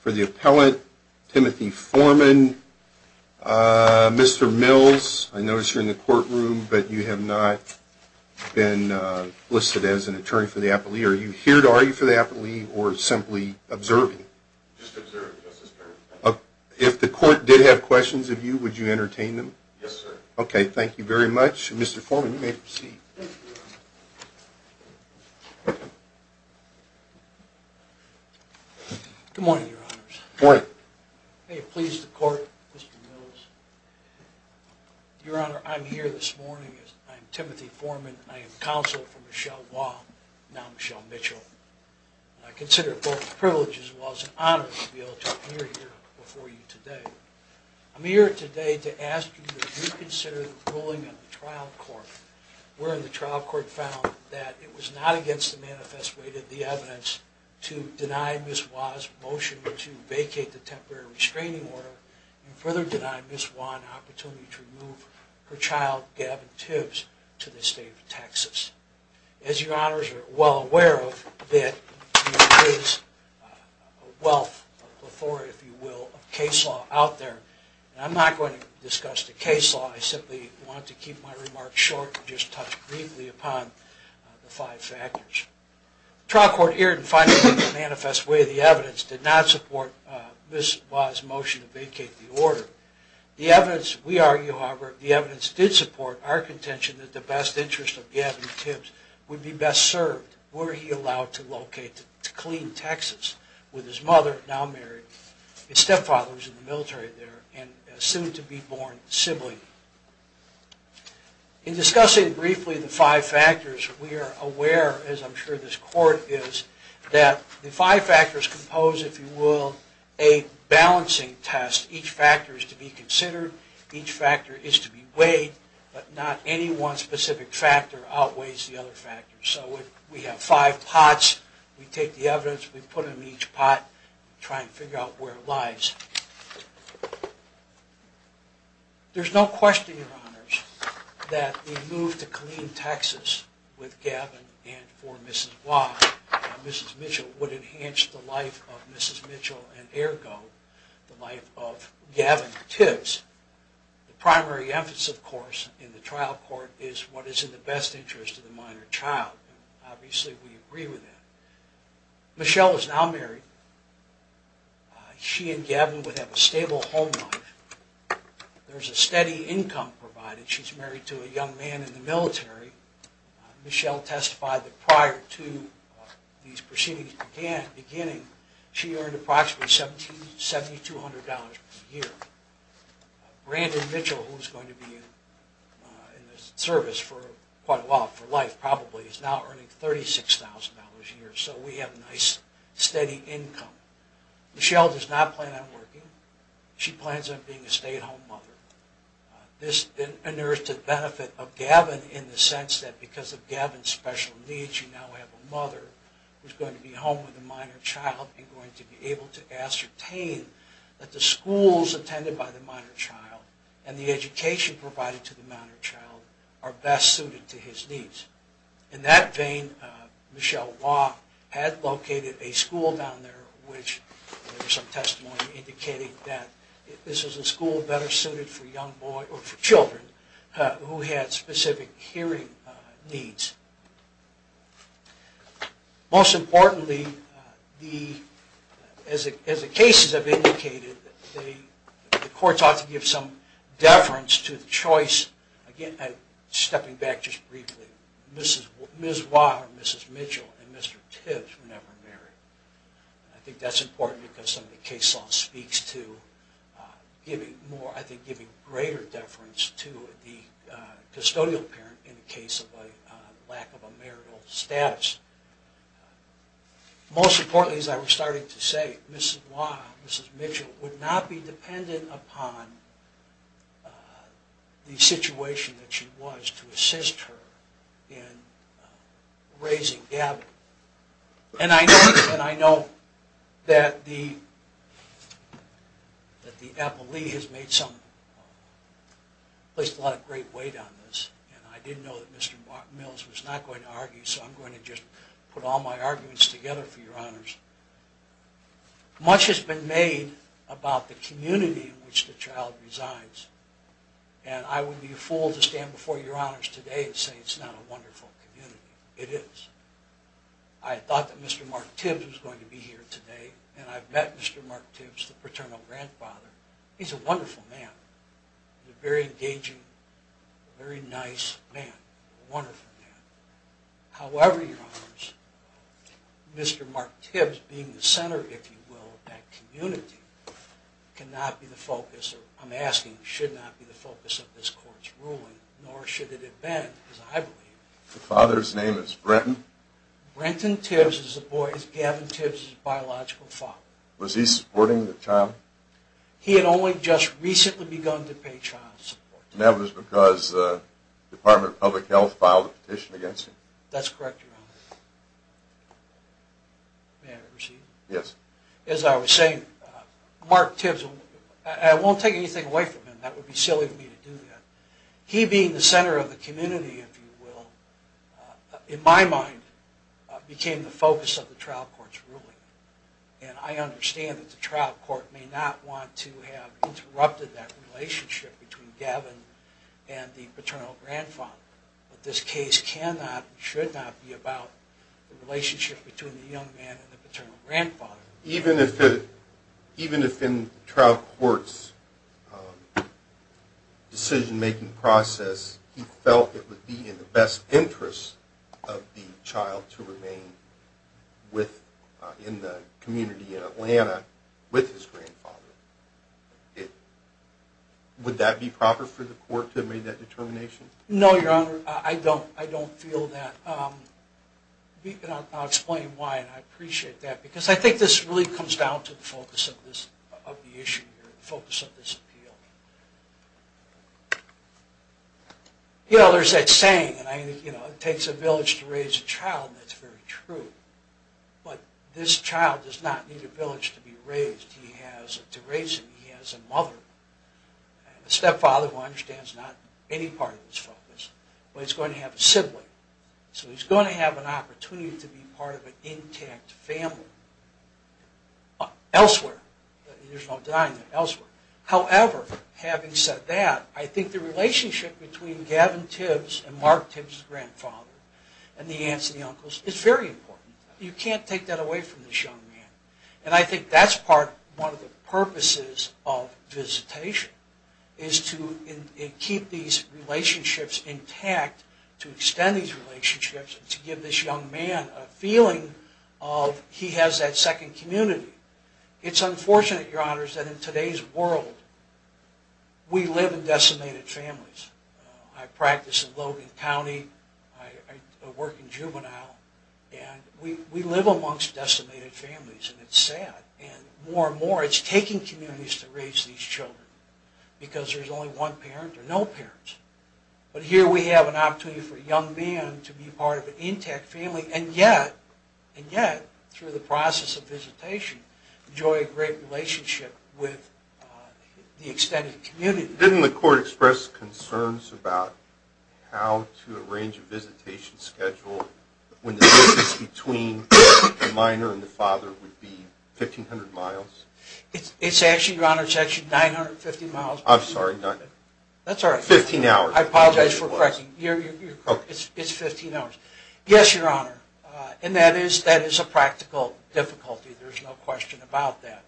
for the appellate, Timothy Forman. Mr. Mills, I notice you're in the courtroom but you have not been listed as an attorney for the appellee. Are you here to argue for the appellee or simply observing? Just observing, yes, sir. If the court did have questions of you, would you entertain them? Yes, sir. Okay, thank you. Thank you very much. Mr. Forman, you may proceed. Good morning, Your Honors. Good morning. May it please the court, Mr. Mills. Your Honor, I'm here this morning. I'm Timothy Forman. I am counsel for Michelle Waugh, now Michelle Mitchell. I consider it both a privilege as well as an honor to be able to appear here before you today. I'm here today to ask you to reconsider the ruling of the trial court where the trial court found that it was not against the manifest way that the evidence to deny Ms. Waugh's motion to vacate the temporary restraining order and further deny Ms. Waugh an opportunity to remove her child, Gavin Tibbs, to the state of Texas. As Your Honors are well aware of, there is a wealth of authority, if you will, of case law out there. I'm not going to discuss the case law. I simply want to keep my remarks short and just touch briefly upon the five factors. In discussing briefly the five factors, we are aware, as I'm sure you are aware, of the fact that Ms. Waugh's motion to vacate the temporary restraining order did not support the manifest way that the evidence to deny Ms. Waugh's motion to vacate the temporary restraining order. The five factors compose, if you will, a balancing test. Each factor is to be considered, each factor is to be weighed, but not any one specific factor outweighs the other factors. So we have five pots, we take the evidence, we put it in each pot and try to figure out where it lies. There's no question, Your Honors, that the move to Killeen, Texas with Gavin and for Ms. Waugh, Mrs. Mitchell, would enhance the life of Mrs. Mitchell and ergo the life of Gavin Tibbs. The primary emphasis, of course, in the trial court is what is in the best interest of the minor child. Obviously we agree with that. Michelle is now married. She and Gavin would have a stable home life. There's a steady income provided. She's married to a young man in the military. Michelle testified that prior to these proceedings beginning, she earned approximately $7,200 per year. Brandon Mitchell, who is going to be in the service for quite a while, for life probably, is now earning $36,000 a year. So we have a nice steady income. Michelle does not plan on working. She plans on being a stay-at-home mother. This is to the benefit of Gavin in the sense that because of Gavin's special needs, she now has a mother who is going to be home with a minor child and going to be able to ascertain that the schools attended by the minor child and the education provided to the minor child are best suited to his needs. In that vein, Michelle Waugh had located a school down there which there is some testimony indicating that this is a school better suited for young boys or for children who had specific hearing needs. Most importantly, as the cases have indicated, the courts ought to give some deference to the choice. Again, stepping back just briefly, Mrs. Waugh and Mrs. Mitchell and Mr. Tibbs were never married. I think that's important because some of the case law speaks to giving greater deference to the custodial parent in the case of a lack of a marital status. Most importantly, as I was starting to say, Mrs. Waugh and Mrs. Mitchell would not be dependent upon the situation that she was to assist her in raising Gavin. And I know that the appellee has placed a lot of great weight on this and I didn't know that Mr. Mills was not going to argue so I'm going to just put all my arguments together for your honors. Much has been made about the community in which the child resides and I would be a fool to stand before your honors today and say it's not a wonderful community. It is. I thought that Mr. Mark Tibbs was going to be here today and I've met Mr. Mark Tibbs, the paternal grandfather. He's a wonderful man, a very engaging, very nice man, a wonderful man. However, your honors, Mr. Mark Tibbs being the center, if you will, of that community cannot be the focus, or I'm asking should not be the focus of this court's ruling, nor should it have been, as I believe. The father's name is Brenton? Brenton Tibbs is Gavin Tibbs' biological father. Was he supporting the child? He had only just recently begun to pay child support. And that was because the Department of Public Health filed a petition against him? That's correct, your honors. May I proceed? Yes. As I was saying, Mark Tibbs, and I won't take anything away from him, that would be silly of me to do that, he being the center of the community, if you will, in my mind, became the focus of the trial court's ruling. And I understand that the trial court may not want to have interrupted that relationship between Gavin and the paternal grandfather. But this case cannot and should not be about the relationship between the young man and the paternal grandfather. Even if in the trial court's decision-making process he felt it would be in the best interest of the child to remain in the community in Atlanta with his grandfather, would that be proper for the court to have made that determination? No, your honor, I don't feel that. I'll explain why, and I appreciate that. Because I think this really comes down to the focus of the issue here, the focus of this appeal. You know, there's that saying, it takes a village to raise a child, and that's very true. But this child does not need a village to be raised. He has a mother, a stepfather, who I understand is not any part of his focus, but he's going to have a sibling. So he's going to have an opportunity to be part of an intact family elsewhere. There's no denying that, elsewhere. However, having said that, I think the relationship between Gavin Tibbs and Mark Tibbs' grandfather, and the aunts and the uncles, is very important. You can't take that away from this young man. And I think that's one of the purposes of visitation, is to keep these relationships intact, to extend these relationships, and to give this young man a feeling of, he has that second community. It's unfortunate, your honors, that in today's world, we live in decimated families. I practice in Logan County, I work in juvenile, and we live amongst decimated families. And it's sad. And more and more, it's taking communities to raise these children. Because there's only one parent, or no parents. But here we have an opportunity for a young man to be part of an intact family, and yet, through the process of visitation, enjoy a great relationship with the extended community. Didn't the court express concerns about how to arrange a visitation schedule, when the distance between the minor and the father would be 1,500 miles? It's actually, your honors, it's actually 950 miles. I'm sorry. That's all right. 15 hours. I apologize for correcting you. It's 15 hours. Yes, your honor. And that is a practical difficulty. There's no question about that.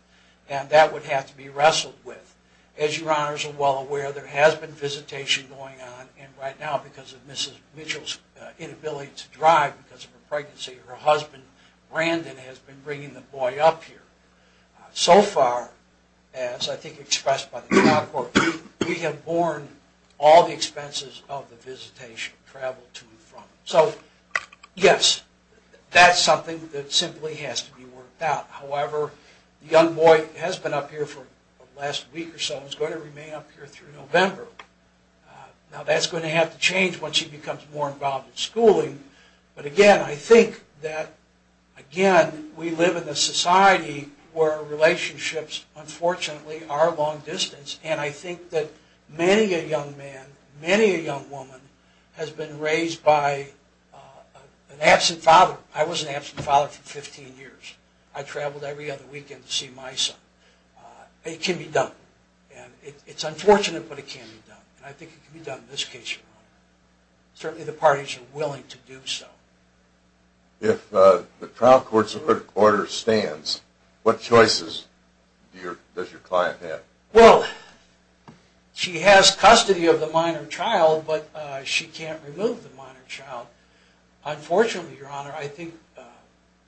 And that would have to be wrestled with. As your honors are well aware, there has been visitation going on, and right now, because of Mrs. Mitchell's inability to drive because of her pregnancy, her husband, Brandon, has been bringing the boy up here. So far, as I think expressed by the trial court, we have borne all the expenses of the visitation travel to and from. So, yes, that's something that simply has to be worked out. However, the young boy has been up here for the last week or so and is going to remain up here through November. Now, that's going to have to change once he becomes more involved in schooling. But, again, I think that, again, we live in a society where relationships, unfortunately, are long distance. And I think that many a young man, many a young woman, has been raised by an absent father. I was an absent father for 15 years. I traveled every other weekend to see my son. It can be done. And it's unfortunate, but it can be done. And I think it can be done in this case, Your Honor. Certainly the parties are willing to do so. If the trial court's order stands, what choices does your client have? Well, she has custody of the minor child, but she can't remove the minor child. Unfortunately, Your Honor, I think...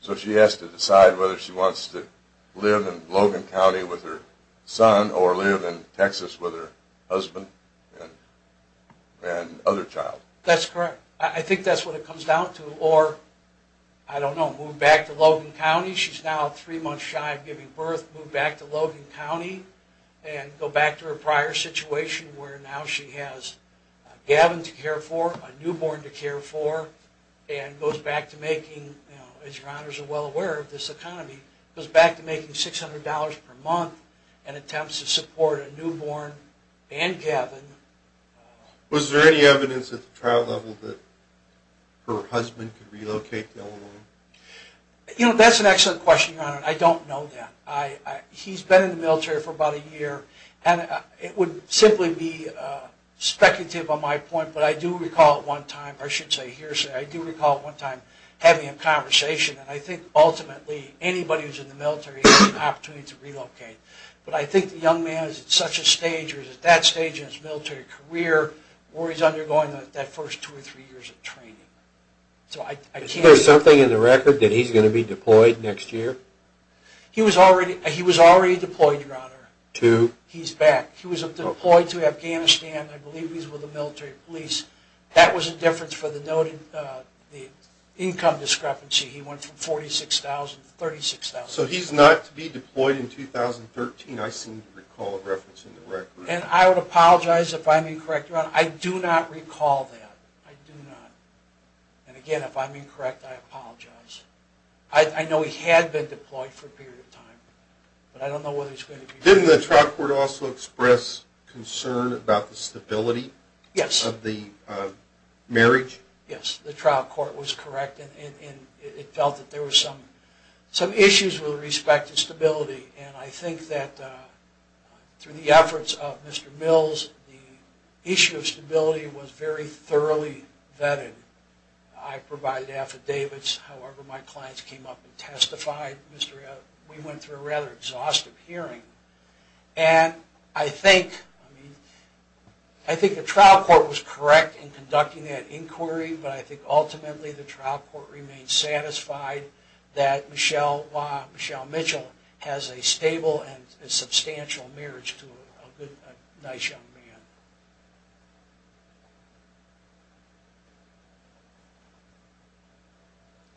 So she has to decide whether she wants to live in Logan County with her son or live in Texas with her husband and other child. That's correct. I think that's what it comes down to. Or, I don't know, move back to Logan County. She's now three months shy of giving birth. Move back to Logan County and go back to her prior situation where now she has Gavin to care for, a newborn to care for, and goes back to making, as Your Honors are well aware of this economy, goes back to making $600 per month and attempts to support a newborn and Gavin. Was there any evidence at the trial level that her husband could relocate to Illinois? You know, that's an excellent question, Your Honor. I don't know that. He's been in the military for about a year, and it would simply be speculative on my point, but I do recall at one time, or I should say hearsay, I do recall at one time having a conversation, and I think ultimately anybody who's in the military has an opportunity to relocate. But I think the young man is at such a stage or is at that stage in his military career where he's undergoing that first two or three years of training. Is there something in the record that he's going to be deployed next year? He was already deployed, Your Honor. To? He's back. He was deployed to Afghanistan. I believe he's with the military police. That was a difference for the income discrepancy. He went from $46,000 to $36,000. So he's not to be deployed in 2013, I seem to recall referencing the record. And I would apologize if I'm incorrect, Your Honor. I do not recall that. I do not. And again, if I'm incorrect, I apologize. I know he had been deployed for a period of time, but I don't know whether he's going to be. Didn't the trial court also express concern about the stability of the marriage? Yes, the trial court was correct. And it felt that there were some issues with respect to stability. And I think that through the efforts of Mr. Mills, the issue of stability was very thoroughly vetted. I provided affidavits. However, my clients came up and testified. We went through a rather exhaustive hearing. And I think the trial court was correct in conducting that inquiry, but I think ultimately the trial court remained satisfied that Michelle Mitchell has a stable and substantial marriage to a nice young man.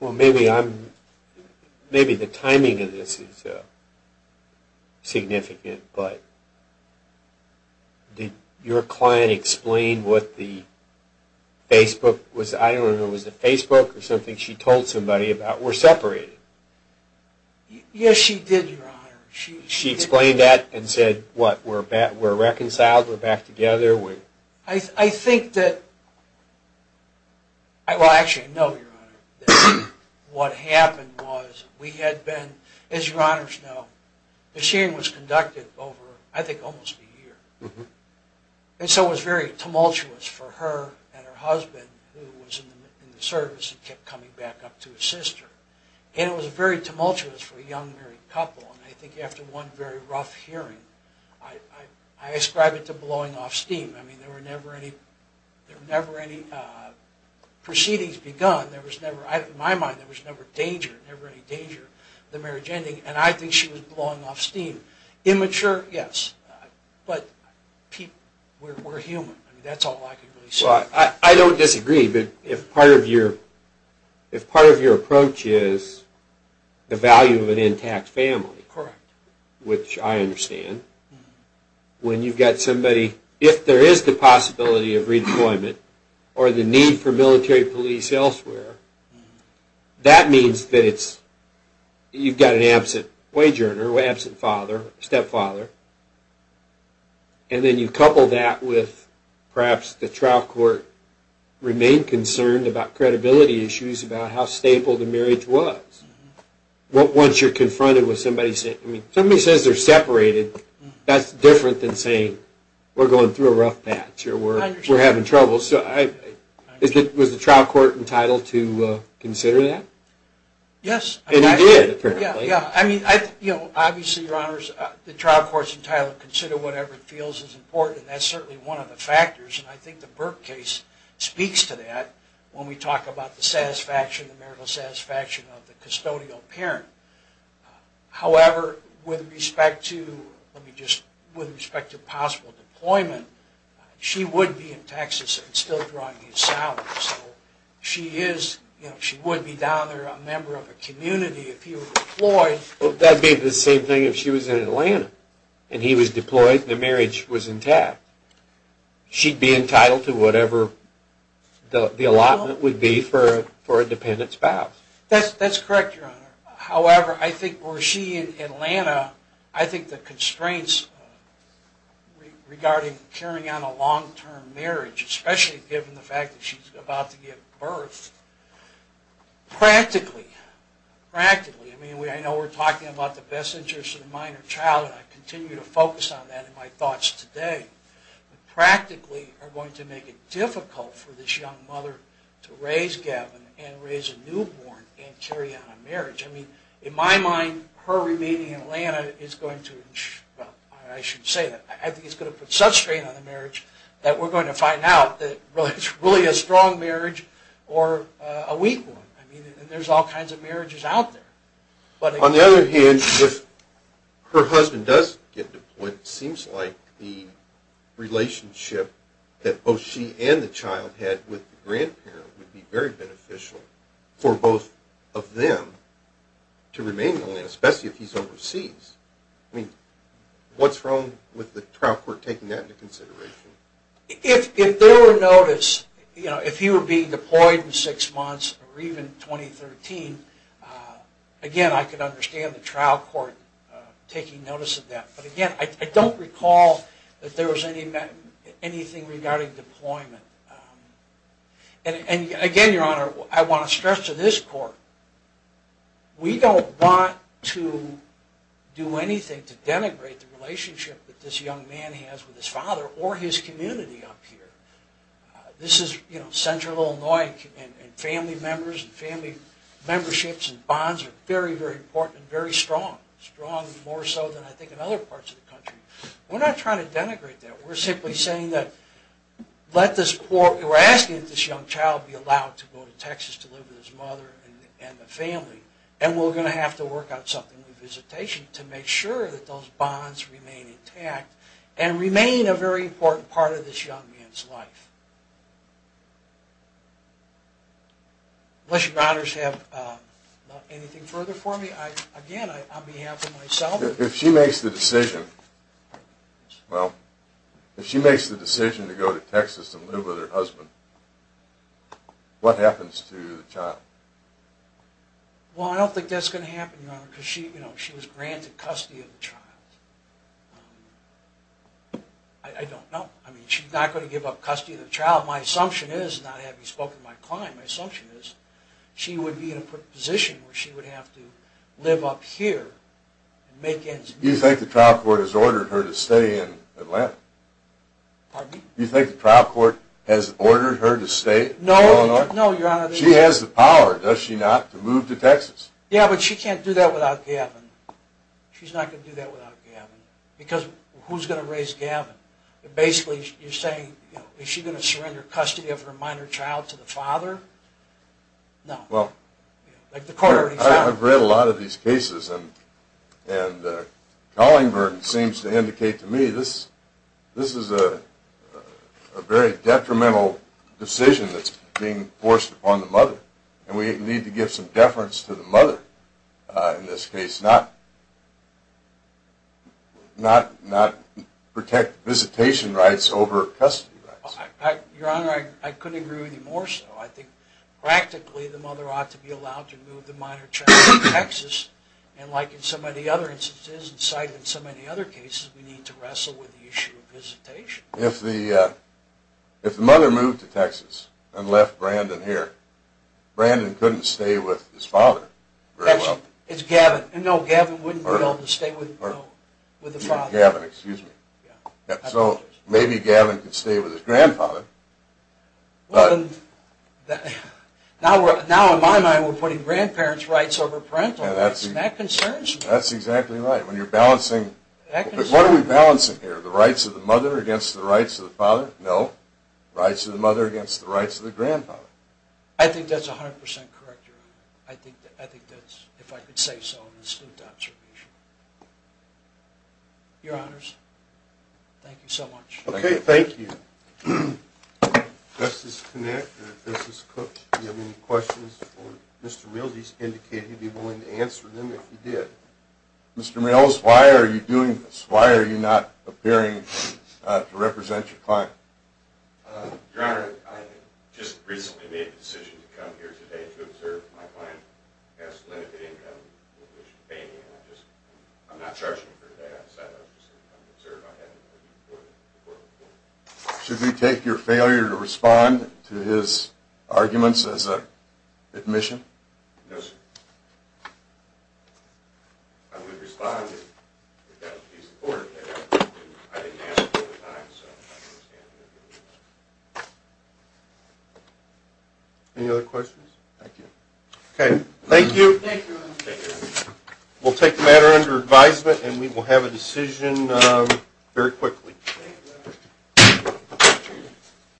Well, maybe I'm, maybe the timing of this is significant, but did your client explain what the Facebook was, I don't remember, was it Facebook or something she told somebody about? We're separated. Yes, she did, Your Honor. She explained that and said, what, we're reconciled, we're back together? I think that, well, actually, no, Your Honor. What happened was we had been, as Your Honors know, the hearing was conducted over, I think, almost a year. And so it was very tumultuous for her and her husband, who was in the service and kept coming back up to assist her. And it was very tumultuous for a young married couple. And I think after one very rough hearing, I ascribe it to blowing off steam. I mean, there were never any proceedings begun. There was never, in my mind, there was never danger, never any danger of the marriage ending. And I think she was blowing off steam. Immature, yes, but we're human. I mean, that's all I can really say. I don't disagree, but if part of your approach is the value of an intact family, which I understand, when you've got somebody, if there is the possibility of redeployment or the need for military police elsewhere, that means that you've got an absent wage earner, absent father, stepfather, and then you couple that with perhaps the trial court remained concerned about credibility issues, about how stable the marriage was. Once you're confronted with somebody saying, I mean, somebody says they're separated, that's different than saying we're going through a rough patch or we're having trouble. So was the trial court entitled to consider that? Yes. And you did, apparently. Obviously, Your Honors, the trial court's entitled to consider whatever it feels is important, and that's certainly one of the factors, and I think the Burke case speaks to that when we talk about the satisfaction, the marital satisfaction of the custodial parent. However, with respect to possible deployment, she would be in Texas and still drawing these salaries. She would be down there a member of a community if he were deployed. That would be the same thing if she was in Atlanta and he was deployed and the marriage was intact. She'd be entitled to whatever the allotment would be for a dependent spouse. That's correct, Your Honor. However, I think where she's in Atlanta, I think the constraints regarding carrying out a long-term marriage, especially given the fact that she's about to give birth, practically, practically, I mean, I know we're talking about the best interest of the minor child, and I continue to focus on that in my thoughts today, but practically are going to make it difficult for this young mother to raise Gavin and raise a newborn and carry out a marriage. I mean, in my mind, her remaining in Atlanta is going to, well, I shouldn't say that, I think it's going to put such strain on the marriage that we're going to find out that it's really a strong marriage or a weak one. I mean, there's all kinds of marriages out there. On the other hand, if her husband does get deployed, it seems like the relationship that both she and the child had with the grandparent would be very beneficial for both of them to remain in Atlanta, especially if he's overseas. I mean, what's wrong with the trial court taking that into consideration? If there were notice, you know, if he were being deployed in six months or even 2013, again, I could understand the trial court taking notice of that, but again, I don't recall that there was anything regarding deployment. And again, Your Honor, I want to stress to this court, we don't want to do anything to denigrate the relationship that this young man has with his father or his community up here. This is central Illinois, and family members and family memberships and bonds are very, very important and very strong, strong more so than I think in other parts of the country. We're not trying to denigrate that. We're simply saying that let this poor, we're asking that this young child be allowed to go to Texas to live with his mother and the family, and we're going to have to work out something with visitation to make sure that those bonds remain intact and remain a very important part of this young man's life. Unless Your Honors have anything further for me, again, on behalf of myself. If she makes the decision, well, if she makes the decision to go to Texas and live with her husband, what happens to the child? Well, I don't think that's going to happen, Your Honor, because she was granted custody of the child. I don't know. I mean, she's not going to give up custody of the child. My assumption is, not having spoken to my client, my assumption is she would be in a position where she would have to live up here and make ends meet. Do you think the trial court has ordered her to stay in Atlanta? Pardon me? Do you think the trial court has ordered her to stay in Illinois? No, Your Honor. She has the power, does she not, to move to Texas? Yeah, but she can't do that without Gavin. She's not going to do that without Gavin, because who's going to raise Gavin? Basically, you're saying, is she going to surrender custody of her minor child to the father? No. I've read a lot of these cases, and Collingburn seems to indicate to me this is a very detrimental decision that's being forced upon the mother, and we need to give some deference to the mother in this case, not protect visitation rights over custody rights. Your Honor, I couldn't agree with you more so. I think practically the mother ought to be allowed to move the minor child to Texas, and like in so many other instances and cited in so many other cases, we need to wrestle with the issue of visitation. If the mother moved to Texas and left Brandon here, Brandon couldn't stay with his father very well. It's Gavin. No, Gavin wouldn't be able to stay with the father. Gavin, excuse me. So maybe Gavin could stay with his grandfather. Well, now in my mind we're putting grandparents' rights over parental rights, and that concerns me. That's exactly right. What are we balancing here? The rights of the mother against the rights of the father? No. Rights of the mother against the rights of the grandfather. I think that's 100% correct, Your Honor. I think that's, if I could say so, an astute observation. Your Honors, thank you so much. Okay, thank you. Justice Kinnick and Justice Cook, do you have any questions for Mr. Mills? He's indicated he'd be willing to answer them if he did. Mr. Mills, why are you doing this? Why are you not appearing to represent your client? Your Honor, I just recently made the decision to come here today to observe my client. He has limited income, which is a pain in the ass. I'm not charging him for today. I just recently made the decision to come here today to observe my client. Should we take your failure to respond to his arguments as an admission? No, sir. I would respond if that would be supported. I didn't ask for it at the time, so I understand. Any other questions? Okay, thank you. Thank you, Your Honor. We'll take the matter under advisement, and we will have a decision very quickly.